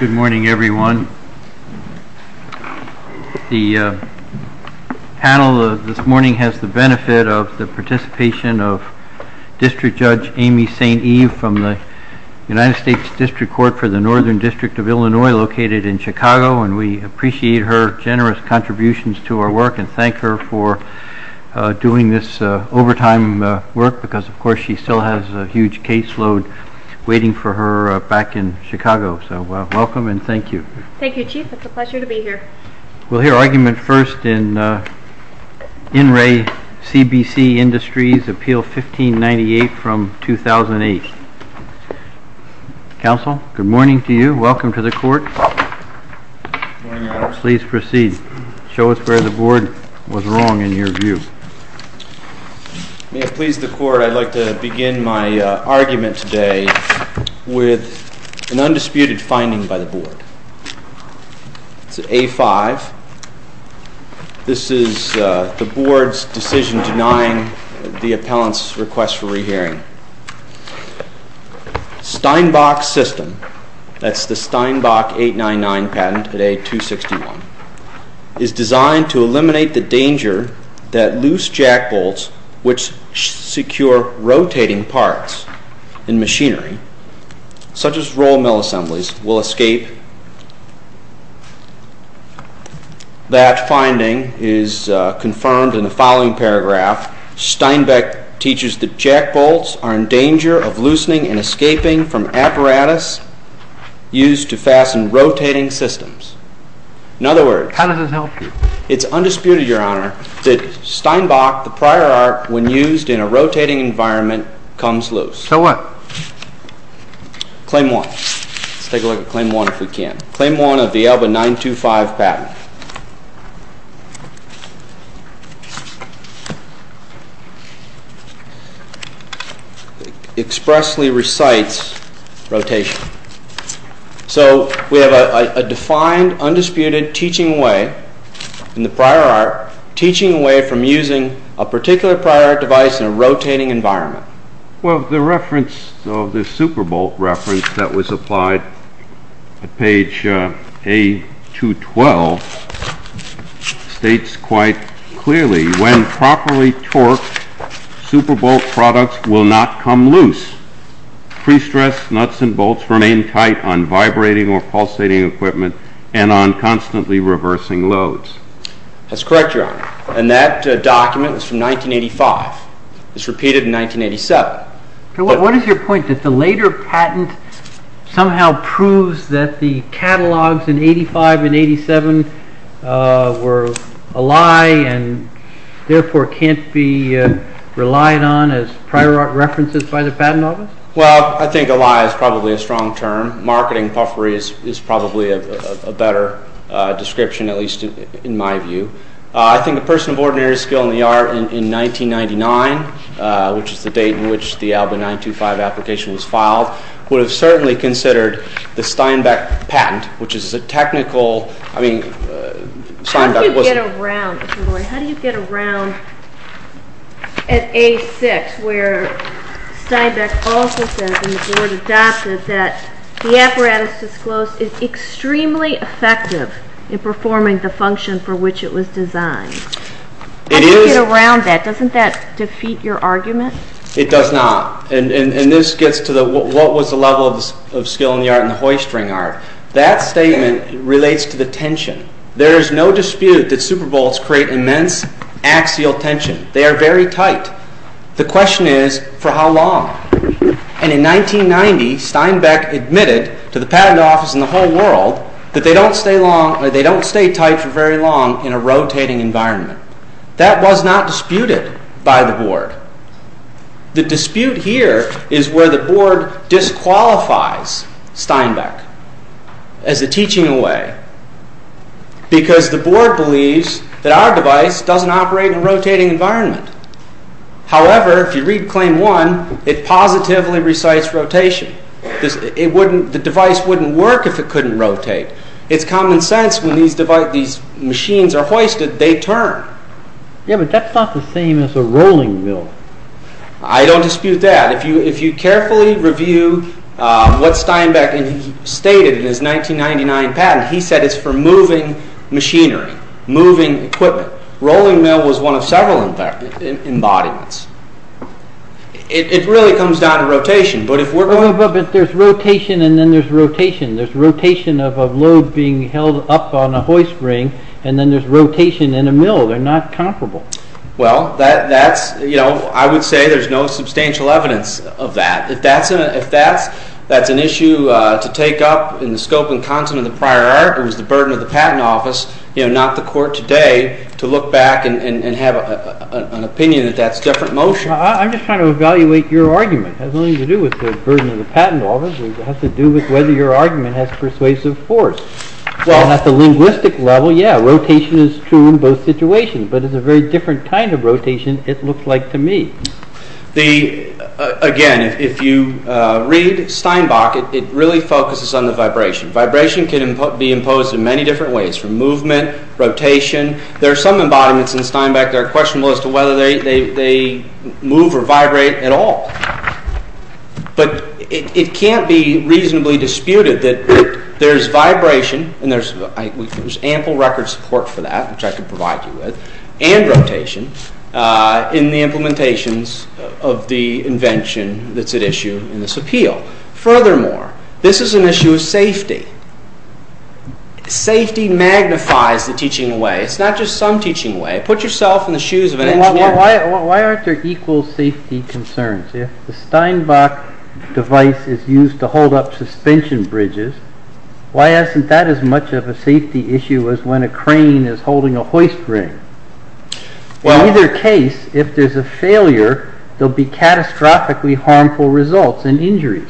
Good morning everyone. The panel this morning has the benefit of the participation of District Judge Amy St. Eve from the United States District Court for the Northern District of Illinois located in Chicago, and we appreciate her generous contributions to our work and thank her for doing this overtime work because of course she still has a huge caseload waiting for her back in Chicago, so welcome and thank you. Thank you, Chief. It's a pleasure to be here. We'll hear argument first in In Re CBC Industries Appeal 1598 from 2008. Counsel, good morning to you. Welcome to the court. Good morning, Your Honor. Please proceed. Show us where the board was wrong in your view. May it please the court, I'd like to begin my argument today with an undisputed finding by the board. It's at A5. This is the board's decision denying the appellant's request for rehearing. Steinbach System, that's the Steinbach 899 patent at A261, is designed to eliminate the danger that loose jack bolts which secure rotating parts in machinery, such as roll mill assemblies, will escape. That finding is confirmed in the following paragraph. Steinbach teaches that jack bolts are in danger of loosening and escaping from apparatus used to fasten rotating systems. In other words... How does it help you? It's undisputed, Your Honor, that Steinbach, the prior art, when used in a rotating environment, comes loose. So what? Claim 1. Let's take a look at Claim 1 if we can. Claim 1 of the ALBA 925 patent expressly recites rotation. So we have a defined, undisputed, teaching way in the prior art, teaching a way from using a particular prior art device in a rotating environment. Well, the reference, the Superbolt reference that was applied at page A212 states quite clearly, when properly torqued, Superbolt products will not come loose. Pre-stressed nuts and bolts remain tight on vibrating or pulsating equipment and on constantly reversing loads. That's correct, Your Honor. And that document was from 1985. It was repeated in 1987. What is your point? That the later patent somehow proves that the catalogs in 1985 and 1987 were a lie and therefore can't be relied on as prior art references by the Patent Office? Well, I think a lie is probably a strong term. Marketing puffery is probably a better description, at least in my view. I think a person of ordinary skill in the art in 1999, which is the date in which the ALBA 925 application was filed, would have certainly considered the Steinbeck patent, which is a technical, I mean, Steinbeck wasn't How do you get around at A6 where Steinbeck also says, and the Board adopted, that the apparatus disclosed is extremely effective in performing the function for which it was designed? How do you get around that? Doesn't that defeat your argument? It does not. And this gets to what was the level of skill in the art and the hoisting art. That statement relates to the tension. There is no dispute that Super Bowls create immense axial tension. They are very tight. The question is, for how long? And in 1990, Steinbeck admitted to the Patent Office and the whole world that they don't stay tight for very long in a rotating environment. That was not disputed by the Board. The dispute here is where the Board disqualifies Steinbeck as a teaching away, because the Board believes that our device doesn't operate in a rotating environment. However, if you read Claim 1, it positively recites rotation. The device wouldn't work if it couldn't rotate. It's common sense when these machines are hoisted, they turn. Yeah, but that's not the same as a rolling mill. I don't dispute that. If you carefully review what Steinbeck stated in his 1999 patent, he said it's for moving machinery, moving equipment. Rolling mill was one of several embodiments. It really comes down to rotation. But there's rotation and then there's rotation. There's rotation of a load being held up on a hoist ring, and then there's rotation in a mill. They're not comparable. Well, I would say there's no substantial evidence of that. If that's an issue to take up in the scope and content of the prior article, it was the burden of the Patent Office, not the Court today, to look back and have an opinion that that's a different motion. I'm just trying to evaluate your argument. It has nothing to do with the burden of the Patent Office. It has to do with whether your argument has persuasive force. Well, at the linguistic level, yeah, rotation is true in both situations, but it's a very different kind of rotation it looks like to me. Again, if you read Steinbeck, it really focuses on the vibration. Vibration can be imposed in many different ways, from movement, rotation. There are some embodiments in Steinbeck that are questionable as to whether they move or vibrate at all. But it can't be reasonably disputed that there's vibration, and there's ample record support for that, which I can provide you with, and rotation in the implementations of the invention that's at issue in this appeal. Furthermore, this is an issue of safety. Safety magnifies the teaching way. It's not just some teaching way. Put yourself in the shoes of an engineer. Why aren't there equal safety concerns? If the Steinbeck device is used to hold up suspension bridges, why isn't that as much of a safety issue as when a crane is holding a hoist ring? In either case, if there's a failure, there'll be catastrophically harmful results and injuries.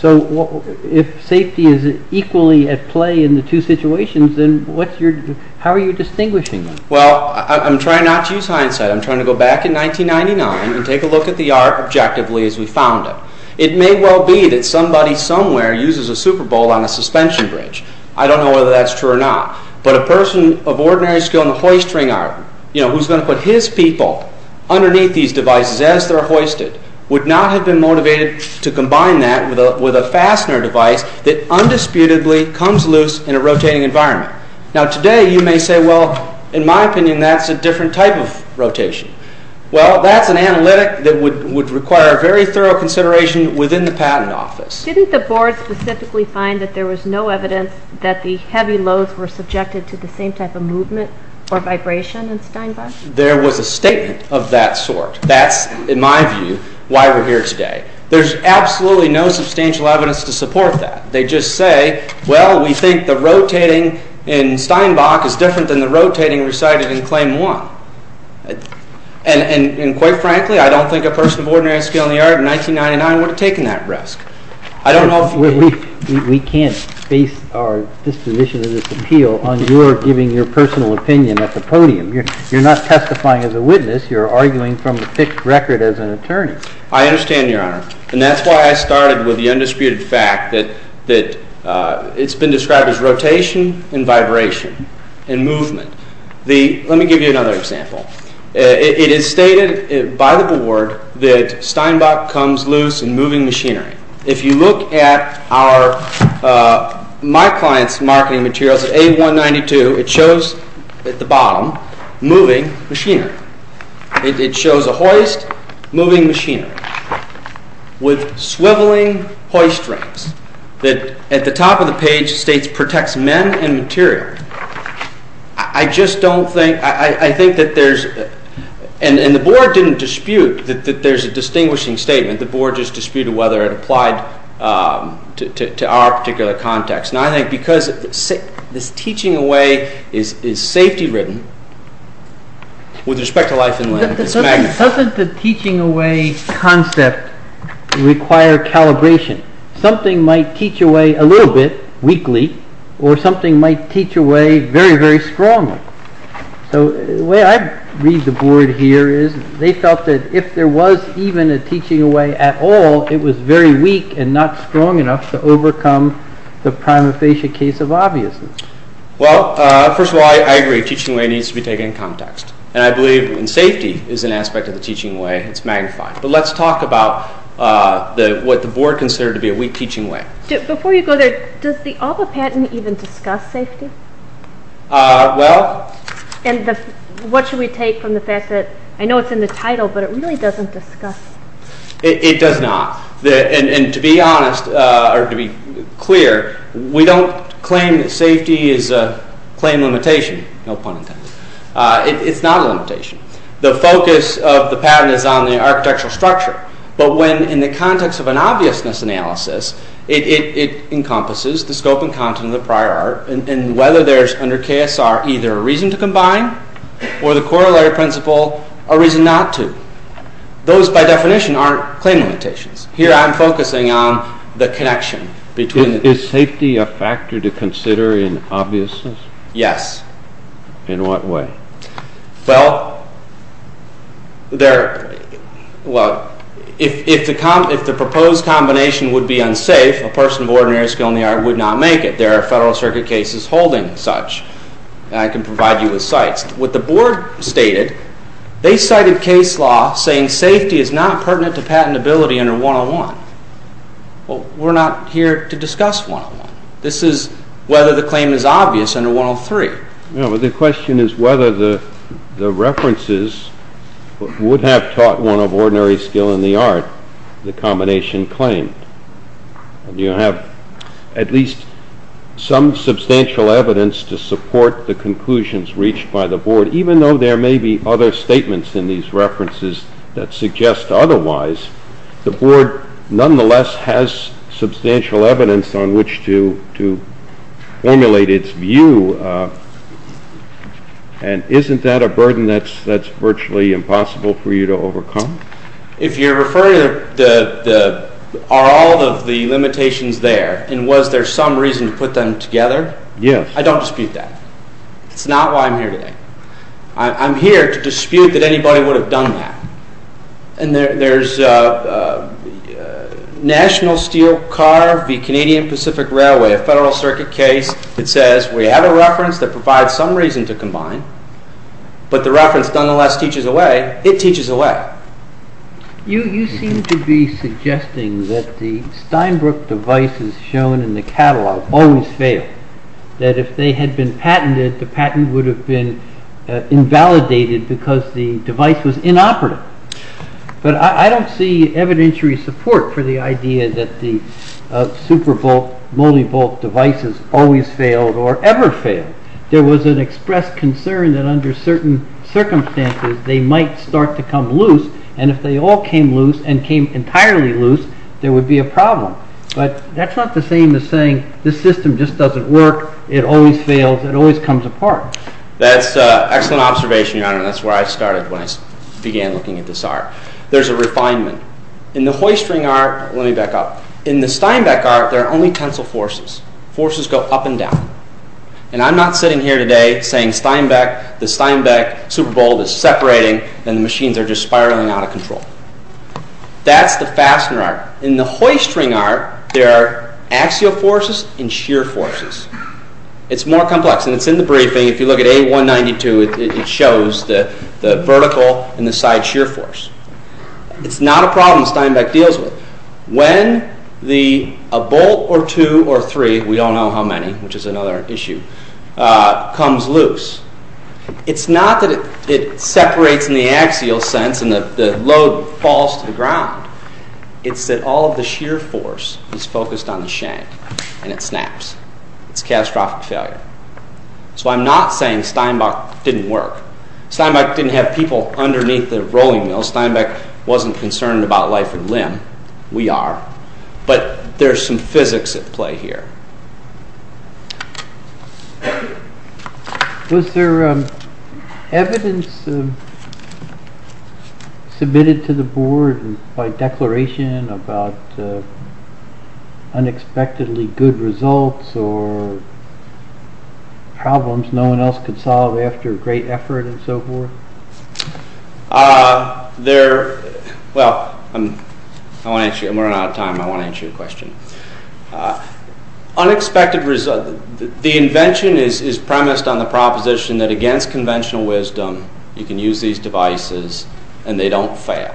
So if safety is equally at play in the two situations, then how are you distinguishing them? Well, I'm trying not to use hindsight. I'm trying to go back in 1999 and take a look at the art objectively as we found it. It may well be that somebody somewhere uses a Super Bowl on a suspension bridge. I don't know whether that's true or not. But a person of ordinary skill in the hoist ring art, who's going to put his people underneath these devices as they're hoisted, would not have been motivated to combine that with a fastener device that undisputedly comes loose in a rotating environment. Now today, you may say, well, in my opinion, that's a different type of rotation. Well, that's an analytic that would require very thorough consideration within the patent office. Didn't the board specifically find that there was no evidence that the heavy loads were subjected to the same type of movement or vibration in Steinbeck? There was a statement of that sort. That's, in my view, why we're here today. There's absolutely no substantial evidence to support that. They just say, well, we think the rotating in Steinbeck is different than the rotating recited in Claim 1. And quite frankly, I don't think a person of ordinary skill in the art in 1999 would have taken that risk. We can't base our disposition of this appeal on your giving your personal opinion at the podium. You're not testifying as a witness. You're arguing from a fixed record as an attorney. I understand, Your Honor. And that's why I started with the undisputed fact that it's been described as rotation and vibration and movement. Let me give you another example. It is stated by the board that Steinbeck comes loose in moving machinery. If you look at my client's marketing materials at A192, it shows at the bottom moving machinery. It shows a hoist moving machinery with swiveling hoist rings that at the top of the page states protects men and material. I just don't think, I think that there's, and the board didn't dispute that there's a distinguishing statement. The board just disputed whether it applied to our particular context. Now I think because this teaching away is safety-ridden, with respect to life and limb, it's magnificent. Doesn't the teaching away concept require calibration? Something might teach away a little bit, weakly, or something might teach away very, very strongly. So the way I read the board here is they felt that if there was even a teaching away at all, it was very weak and not strong enough to overcome the prima facie case of obviousness. Well, first of all, I agree. Teaching away needs to be taken in context. And I believe in safety is an aspect of the teaching away that's magnified. But let's talk about what the board considered to be a weak teaching way. Before you go there, does the ALBA patent even discuss safety? Well... And what should we take from the fact that, I know it's in the title, but it really doesn't discuss. It does not. And to be honest, or to be clear, we don't claim that safety is a claim limitation. No pun intended. It's not a limitation. The focus of the patent is on the architectural structure. But when in the context of an obviousness analysis, it encompasses the scope and content of the prior art, and whether there's, under KSR, either a reason to combine, or the corollary principle, a reason not to. Those, by definition, aren't claim limitations. Here I'm focusing on the connection between... Is safety a factor to consider in obviousness? Yes. In what way? Well, there... Well, if the proposed combination would be unsafe, a person of ordinary skill in the art would not make it. There are Federal Circuit cases holding such. And I can provide you with sites. What the board stated, they cited case law saying safety is not pertinent to patentability under 101. Well, we're not here to discuss 101. This is whether the claim is obvious under 103. No, but the question is whether the references would have taught one of ordinary skill in the art the combination claimed. Do you have at least some substantial evidence to support the conclusions reached by the board? Even though there may be other statements in these references that suggest otherwise, the board nonetheless has substantial evidence on which to formulate its view. And isn't that a burden that's virtually impossible for you to overcome? If you're referring to the... Are all of the limitations there? And was there some reason to put them together? Yes. I don't dispute that. It's not why I'm here today. I'm here to dispute that anybody would have done that. And there's National Steel Car v. Canadian Pacific Railway, a Federal Circuit case that says we have a reference that provides some reason to combine, but the reference nonetheless teaches a way. It teaches a way. You seem to be suggesting that the Steinbrook devices shown in the catalog always fail. That if they had been patented, the patent would have been invalidated because the device was inoperative. But I don't see evidentiary support for the idea that the super-volt, multi-volt devices always failed or ever failed. There was an expressed concern that under certain circumstances they might start to come loose, and if they all came loose and came entirely loose, there would be a problem. But that's not the same as saying this system just doesn't work, it always fails, it always comes apart. That's an excellent observation, Your Honor, and that's where I started when I began looking at this arc. There's a refinement. In the hoist ring arc, let me back up, in the Steinbeck arc, there are only tensile forces. Forces go up and down. And I'm not sitting here today saying the Steinbeck super-volt is separating and the machines are just spiraling out of control. That's the fastener arc. In the hoist ring arc, there are axial forces and shear forces. It's more complex, and it's in the briefing. If you look at A192, it shows the vertical and the side shear force. It's not a problem Steinbeck deals with. When a bolt or two or three, we don't know how many, which is another issue, comes loose, it's not that it separates in the axial sense and the load falls to the ground. It's that all of the shear force is focused on the shank, and it snaps. It's a catastrophic failure. So I'm not saying Steinbeck didn't work. Steinbeck didn't have people underneath the rolling mill. Steinbeck wasn't concerned about life and limb. We are. But there's some physics at play here. Thank you. Was there evidence submitted to the board by declaration about unexpectedly good results or problems no one else could solve after great effort and so forth? Well, I'm running out of time. I want to answer your question. Unexpected results. The invention is premised on the proposition that against conventional wisdom, you can use these devices and they don't fail.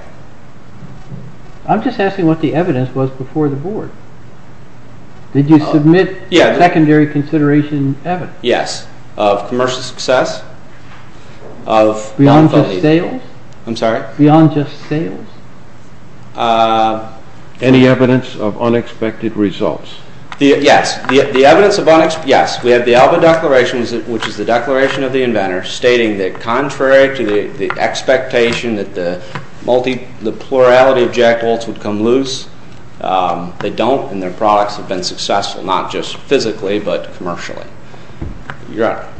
I'm just asking what the evidence was before the board. Did you submit secondary consideration evidence? Yes. Beyond just sales? I'm sorry? Beyond just sales? Any evidence of unexpected results? Yes. The evidence of unexpected results, yes. We have the Alba Declaration, which is the declaration of the inventor, stating that contrary to the expectation that the plurality of jackbolts would come loose, they don't, and their products have been successful, not just physically but commercially.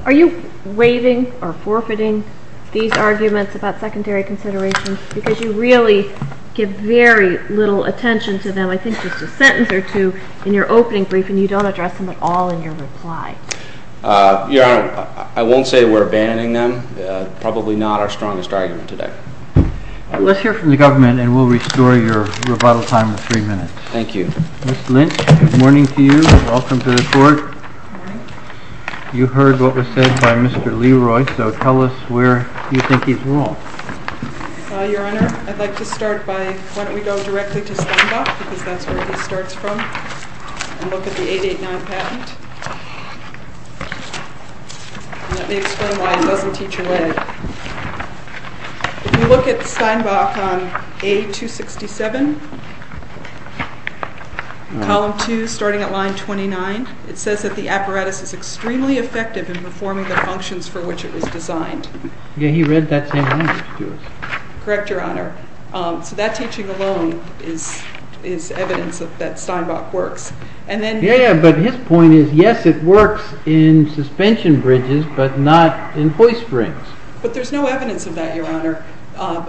Are you waiving or forfeiting these arguments about secondary consideration because you really give very little attention to them, I think just a sentence or two in your opening brief and you don't address them at all in your reply? Your Honor, I won't say we're abandoning them. Probably not our strongest argument today. Let's hear from the government and we'll restore your rebuttal time of three minutes. Thank you. Ms. Lynch, good morning to you. Welcome to the court. You heard what was said by Mr. Leroy, so tell us where you think he's wrong. Your Honor, I'd like to start by, why don't we go directly to Steinbach because that's where he starts from and look at the 889 patent. Let me explain why it doesn't teach away. If you look at Steinbach on A267, column 2, starting at line 29, it says that the apparatus is extremely effective in performing the functions for which it was designed. Yeah, he read that same language to us. Correct, Your Honor. So that teaching alone is evidence that Steinbach works. Yeah, but his point is, yes, it works in suspension bridges, but not in hoist springs. But there's no evidence of that, Your Honor,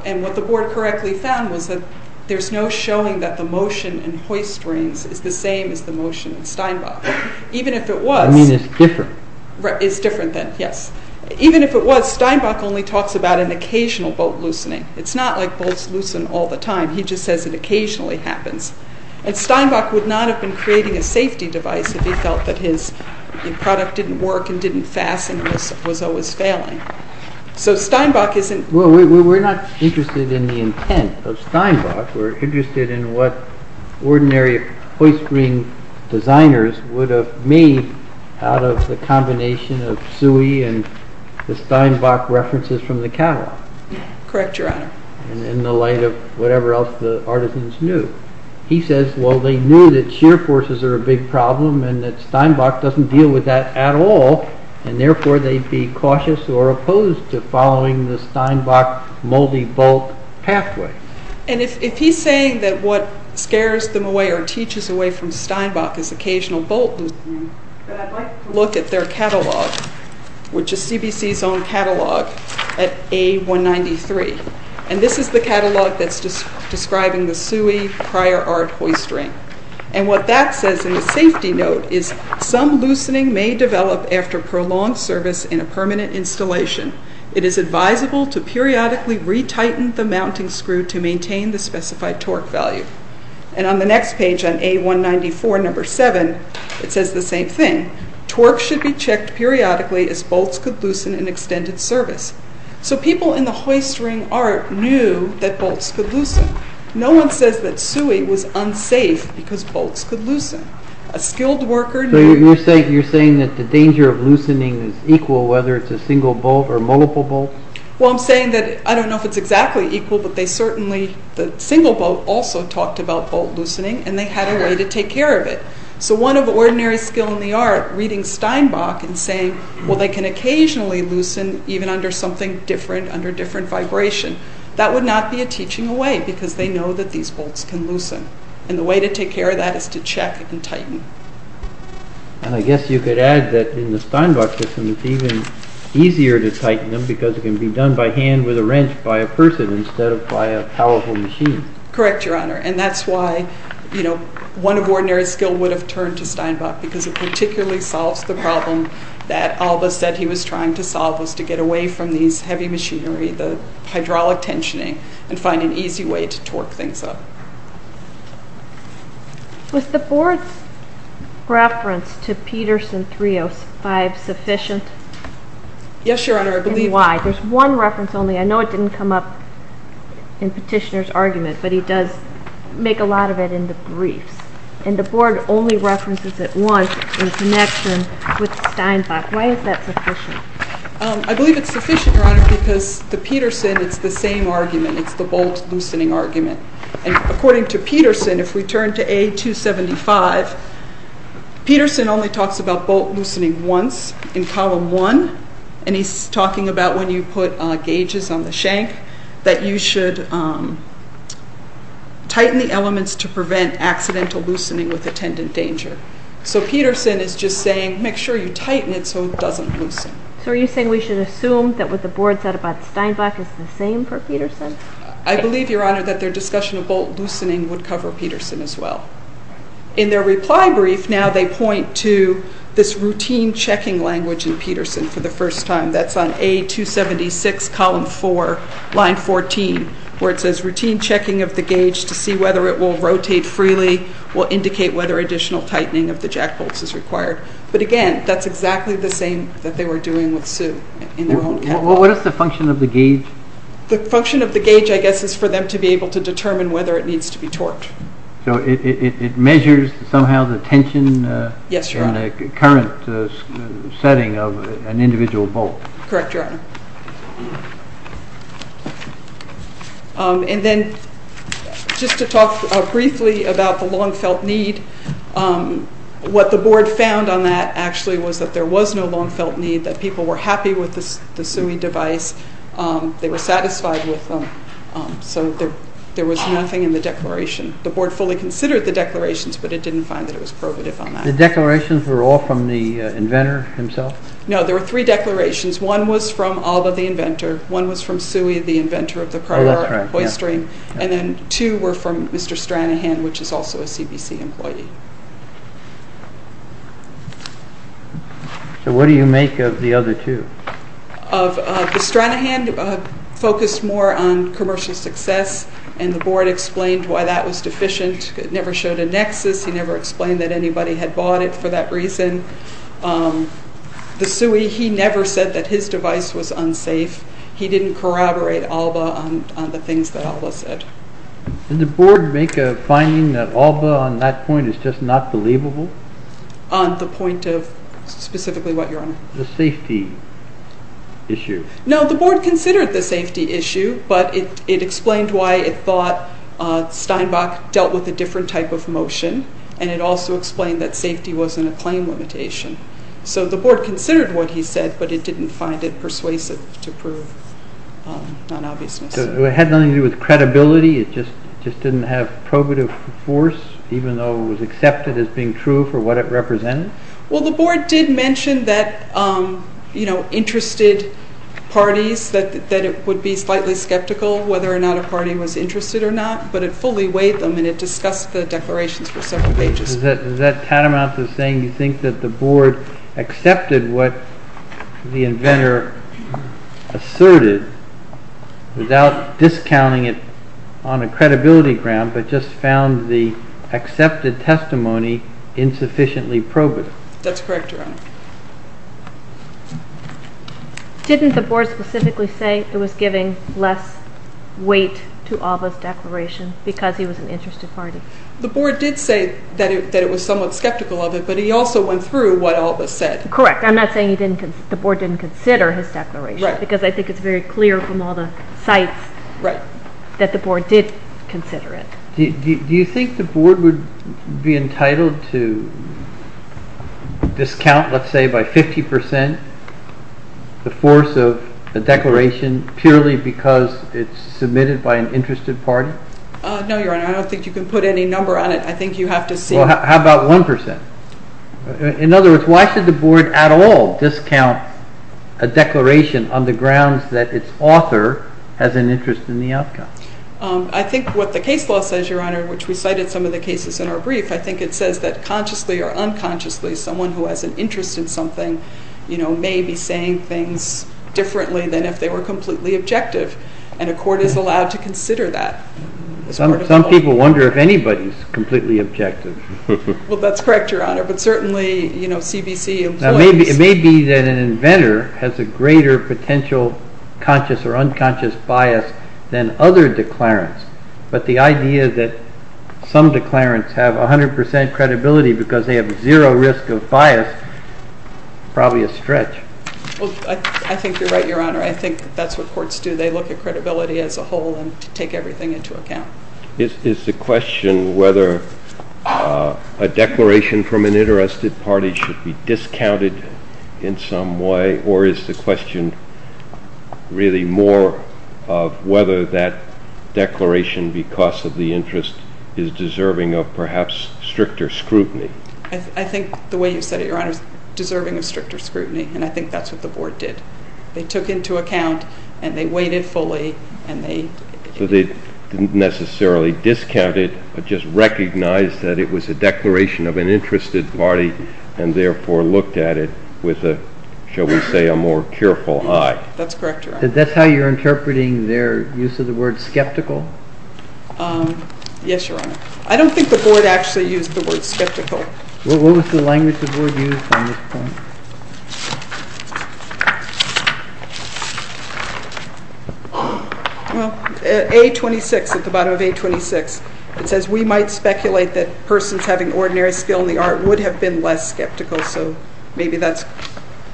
and what the board correctly found was that there's no showing that the motion in hoist springs is the same as the motion in Steinbach. Even if it was... I mean it's different. It's different then, yes. Even if it was, Steinbach only talks about an occasional bolt loosening. It's not like bolts loosen all the time. He just says it occasionally happens. And Steinbach would not have been creating a safety device if he felt that his product didn't work and didn't fasten and was always failing. So Steinbach isn't... Well, we're not interested in the intent of Steinbach. We're interested in what ordinary hoist spring designers would have made out of the combination of SUI and the Steinbach references from the catalog. Correct, Your Honor. And in the light of whatever else the artisans knew. He says, well, they knew that shear forces are a big problem and that Steinbach doesn't deal with that at all, and therefore they'd be cautious or opposed to following the Steinbach multi-bolt pathway. And if he's saying that what scares them away or teaches away from Steinbach is occasional bolt loosening, then I'd like to look at their catalog, which is CBC's own catalog at A193. And this is the catalog that's describing the SUI prior art hoist ring. And what that says in the safety note is, some loosening may develop after prolonged service in a permanent installation. It is advisable to periodically retighten the mounting screw to maintain the specified torque value. And on the next page, on A194, number 7, it says the same thing. Torque should be checked periodically as bolts could loosen in extended service. So people in the hoist ring art knew that bolts could loosen. No one says that SUI was unsafe because bolts could loosen. A skilled worker knew... So you're saying that the danger of loosening is equal, whether it's a single bolt or multiple bolts? Well, I'm saying that I don't know if it's exactly equal, but they certainly... The single bolt also talked about bolt loosening, and they had a way to take care of it. So one of ordinary skill in the art, reading Steinbach, and saying, well, they can occasionally loosen even under something different, under different vibration. That would not be a teaching away because they know that these bolts can loosen. And the way to take care of that is to check and tighten. And I guess you could add that in the Steinbach system, it's even easier to tighten them because it can be done by hand with a wrench by a person instead of by a powerful machine. Correct, Your Honor, and that's why, you know, one of ordinary skill would have turned to Steinbach because it particularly solves the problem that Alba said he was trying to solve, was to get away from these heavy machinery, the hydraulic tensioning, and find an easy way to torque things up. Was the board's reference to Peterson 305 sufficient? Yes, Your Honor, I believe... And why? There's one reference only. I know it didn't come up in Petitioner's argument, but he does make a lot of it in the briefs. And the board only references it once in connection with Steinbach. Why is that sufficient? I believe it's sufficient, Your Honor, because the Peterson, it's the same argument. It's the bolt-loosening argument. And according to Peterson, if we turn to A275, Peterson only talks about bolt-loosening once in Column 1, and he's talking about when you put gauges on the shank, that you should tighten the elements to prevent accidental loosening with attendant danger. So Peterson is just saying, make sure you tighten it so it doesn't loosen. So are you saying we should assume that what the board said about Steinbach is the same for Peterson? I believe, Your Honor, that their discussion of bolt-loosening would cover Peterson as well. In their reply brief, now they point to this routine checking language in Peterson for the first time. That's on A276, Column 4, Line 14, where it says, routine checking of the gauge to see whether it will rotate freely will indicate whether additional tightening of the jack bolts is required. But again, that's exactly the same that they were doing with Sue in their own case. What is the function of the gauge? The function of the gauge, I guess, is for them to be able to determine whether it needs to be torqued. So it measures somehow the tension in the current setting of an individual bolt. Correct, Your Honor. And then, just to talk briefly about the long-felt need, what the board found on that, actually, was that there was no long-felt need, that people were happy with the suing device, they were satisfied with them. So there was nothing in the declaration. The board fully considered the declarations, but it didn't find that it was probative on that. The declarations were all from the inventor himself? No, there were three declarations. One was from Alba, the inventor. One was from Suey, the inventor of the prybar and the hoist ring. And then two were from Mr. Stranahan, which is also a CBC employee. So what do you make of the other two? The Stranahan focused more on commercial success, and the board explained why that was deficient. It never showed a nexus. He never explained that anybody had bought it for that reason. The Suey, he never said that his device was unsafe. He didn't corroborate Alba on the things that Alba said. Did the board make a finding that Alba, on that point, is just not believable? On the point of specifically what, Your Honor? The safety issue. No, the board considered the safety issue, but it explained why it thought Steinbach dealt with a different type of motion, and it also explained that safety wasn't a claim limitation. So the board considered what he said, but it didn't find it persuasive to prove non-obviousness. So it had nothing to do with credibility? It just didn't have probative force, even though it was accepted as being true for what it represented? Well, the board did mention that, you know, parties that it would be slightly skeptical whether or not a party was interested or not, but it fully weighed them, and it discussed the declarations for several pages. Is that tantamount to saying you think that the board accepted what the inventor asserted without discounting it on a credibility ground, but just found the accepted testimony insufficiently probative? That's correct, Your Honor. Didn't the board specifically say it was giving less weight to Alba's declaration because he was an interested party? The board did say that it was somewhat skeptical of it, but he also went through what Alba said. Correct. I'm not saying the board didn't consider his declaration, because I think it's very clear from all the sites that the board did consider it. Do you think the board would be entitled to discount, let's say, by 50% the force of a declaration purely because it's submitted by an interested party? No, Your Honor. I don't think you can put any number on it. I think you have to see… Well, how about 1%? In other words, why should the board at all discount a declaration on the grounds that its author has an interest in the outcome? I think what the case law says, Your Honor, which we cited some of the cases in our brief, I think it says that consciously or unconsciously someone who has an interest in something may be saying things differently than if they were completely objective, and a court is allowed to consider that. Some people wonder if anybody is completely objective. Well, that's correct, Your Honor, but certainly CBC employees… It may be that an inventor has a greater potential conscious or unconscious bias than other declarants, but the idea that some declarants have 100% credibility because they have zero risk of bias is probably a stretch. I think you're right, Your Honor. I think that's what courts do. They look at credibility as a whole and take everything into account. Is the question whether a declaration from an interested party should be discounted in some way, or is the question really more of whether that declaration because of the interest is deserving of perhaps stricter scrutiny? I think the way you said it, Your Honor, is deserving of stricter scrutiny, and I think that's what the board did. They took into account and they weighed it fully and they… didn't necessarily discount it, but just recognized that it was a declaration of an interested party and therefore looked at it with a, shall we say, a more careful eye. That's correct, Your Honor. That's how you're interpreting their use of the word skeptical? Yes, Your Honor. I don't think the board actually used the word skeptical. What was the language the board used on this point? Well, at A26, at the bottom of A26, it says, we might speculate that persons having ordinary skill in the art would have been less skeptical, so maybe that's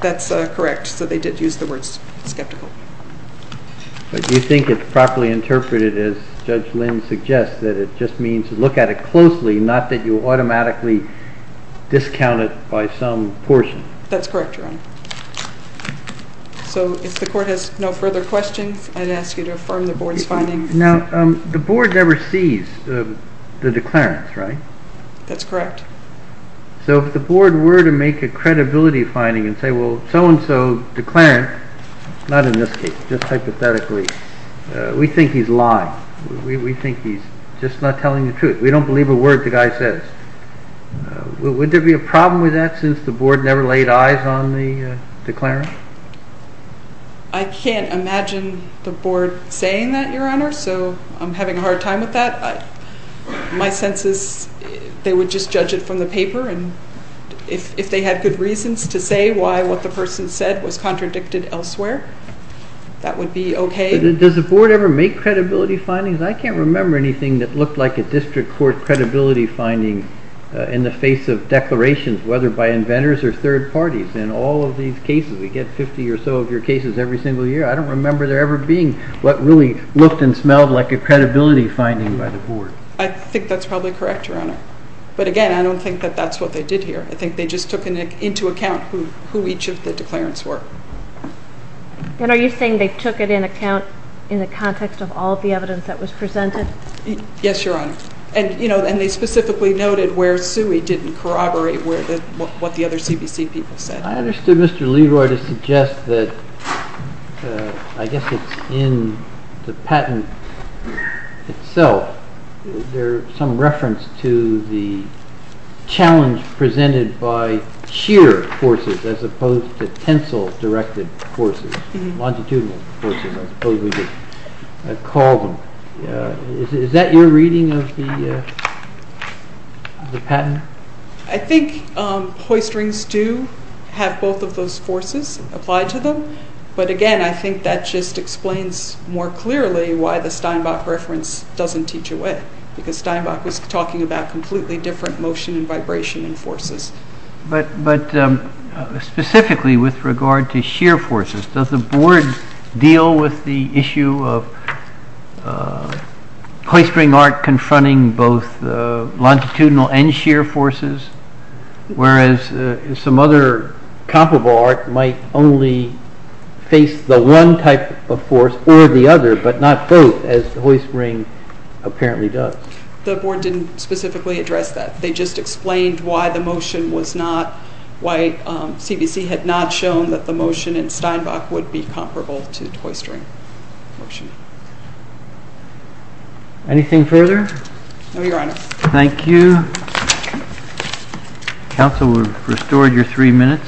correct, so they did use the word skeptical. But do you think it's properly interpreted, as Judge Lynn suggests, that it just means to look at it closely, not that you automatically discount it by some portion? That's correct, Your Honor. So if the court has no further questions, I'd ask you to affirm the board's finding. Now, the board never sees the declarants, right? That's correct. So if the board were to make a credibility finding and say, well, so-and-so declarant, not in this case, just hypothetically, we think he's lying. We think he's just not telling the truth. We don't believe a word the guy says. Would there be a problem with that since the board never laid eyes on the declarant? I can't imagine the board saying that, Your Honor, so I'm having a hard time with that. If they had good reasons to say why what the person said was contradicted elsewhere, that would be okay. Does the board ever make credibility findings? I can't remember anything that looked like a district court credibility finding in the face of declarations, whether by inventors or third parties. In all of these cases, we get 50 or so of your cases every single year. I don't remember there ever being what really looked and smelled like a credibility finding by the board. I think that's probably correct, Your Honor. But again, I don't think that that's what they did here. I think they just took into account who each of the declarants were. And are you saying they took it in account in the context of all of the evidence that was presented? Yes, Your Honor, and they specifically noted where Sui didn't corroborate what the other CBC people said. I understood Mr. Leroy to suggest that I guess it's in the patent itself. There's some reference to the challenge presented by sheer forces as opposed to tensile directed forces, longitudinal forces, I suppose we could call them. Is that your reading of the patent? I think hoist rings do have both of those forces applied to them, but again, I think that just explains more clearly why the Steinbach reference doesn't teach away, because Steinbach was talking about completely different motion and vibration in forces. But specifically with regard to sheer forces, does the board deal with the issue of hoist ring arc confronting both longitudinal and sheer forces, whereas some other comparable arc might only face the one type of force or the other, but not both as the hoist ring apparently does? The board didn't specifically address that. They just explained why the motion was not, why CBC had not shown that the motion in Steinbach would be comparable to the hoist ring motion. Anything further? No, Your Honor. Thank you. Counsel, we've restored your three minutes.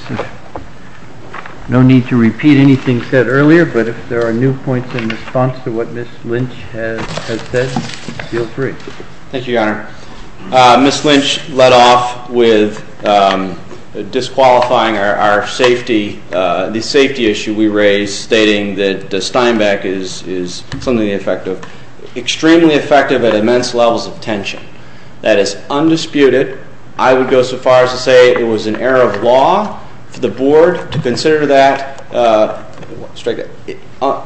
No need to repeat anything said earlier, but if there are new points in response to what Ms. Lynch has said, feel free. Thank you, Your Honor. Ms. Lynch led off with disqualifying our safety, the safety issue we raised stating that Steinbach is something effective, that is undisputed. I would go so far as to say it was an error of law for the board to consider that.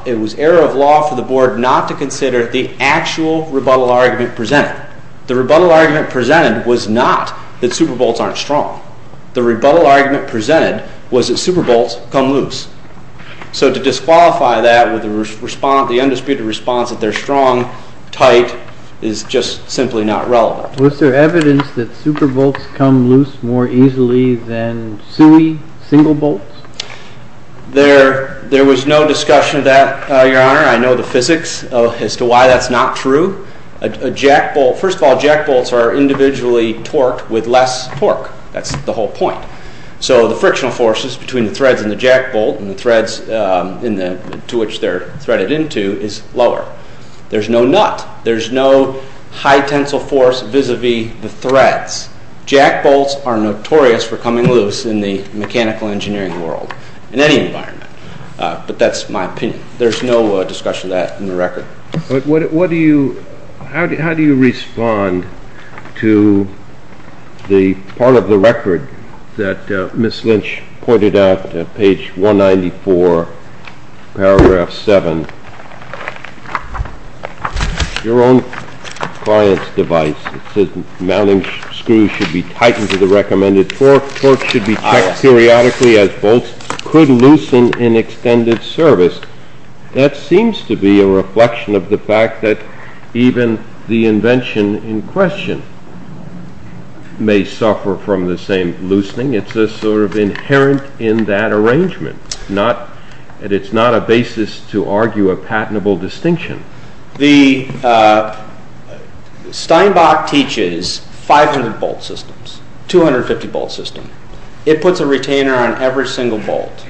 It was error of law for the board not to consider the actual rebuttal argument presented. The rebuttal argument presented was not that Superbolts aren't strong. The rebuttal argument presented was that Superbolts come loose. So to disqualify that with the undisputed response that they're strong, tight, is just simply not relevant. Was there evidence that Superbolts come loose more easily than SUI single bolts? There was no discussion of that, Your Honor. I know the physics as to why that's not true. First of all, jack bolts are individually torqued with less torque. That's the whole point. So the frictional forces between the threads in the jack bolt and the threads to which they're threaded into is lower. There's no nut. There's no high tensile force vis-a-vis the threads. Jack bolts are notorious for coming loose in the mechanical engineering world, in any environment, but that's my opinion. How do you respond to the part of the record that Ms. Lynch pointed out, page 194, paragraph 7? Your own client's device. It says mounting screws should be tightened to the recommended torque. Torque should be checked periodically as bolts could loosen in extended service. That seems to be a reflection of the fact that even the invention in question may suffer from the same loosening. It's sort of inherent in that arrangement. It's not a basis to argue a patentable distinction. Steinbach teaches 500-bolt systems, 250-bolt systems. It puts a retainer on every single bolt.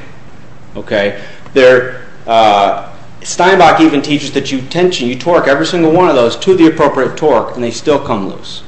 Steinbach even teaches that you tension, you torque every single one of those to the appropriate torque and they still come loose.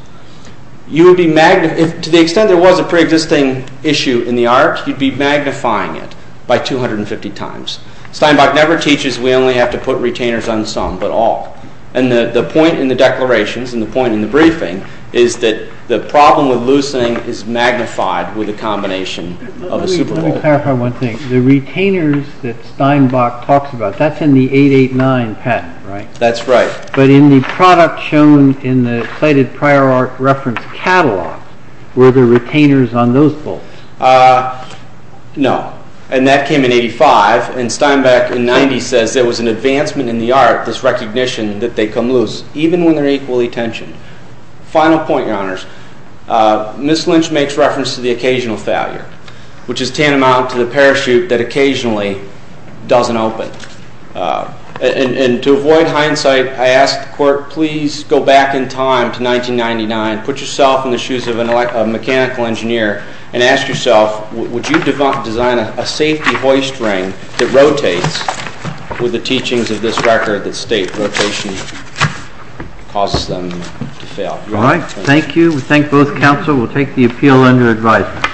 To the extent there was a preexisting issue in the art, you'd be magnifying it by 250 times. Steinbach never teaches we only have to put retainers on some but all. The point in the declarations and the point in the briefing is that the problem with loosening is magnified with a combination of a superbolt. Let me clarify one thing. The retainers that Steinbach talks about, that's in the 889 patent, right? That's right. But in the product shown in the cited prior art reference catalog, were there retainers on those bolts? No. And that came in 85, and Steinbach in 90 says there was an advancement in the art, this recognition that they come loose even when they're equally tensioned. Final point, Your Honors. Ms. Lynch makes reference to the occasional failure, which is tantamount to the parachute that occasionally doesn't open. And to avoid hindsight, I ask the Court, please go back in time to 1999, put yourself in the shoes of a mechanical engineer, and ask yourself, would you design a safety hoist ring that rotates with the teachings of this record that state rotation causes them to fail? All right. Thank you. We thank both counsel. We'll take the appeal under advisement.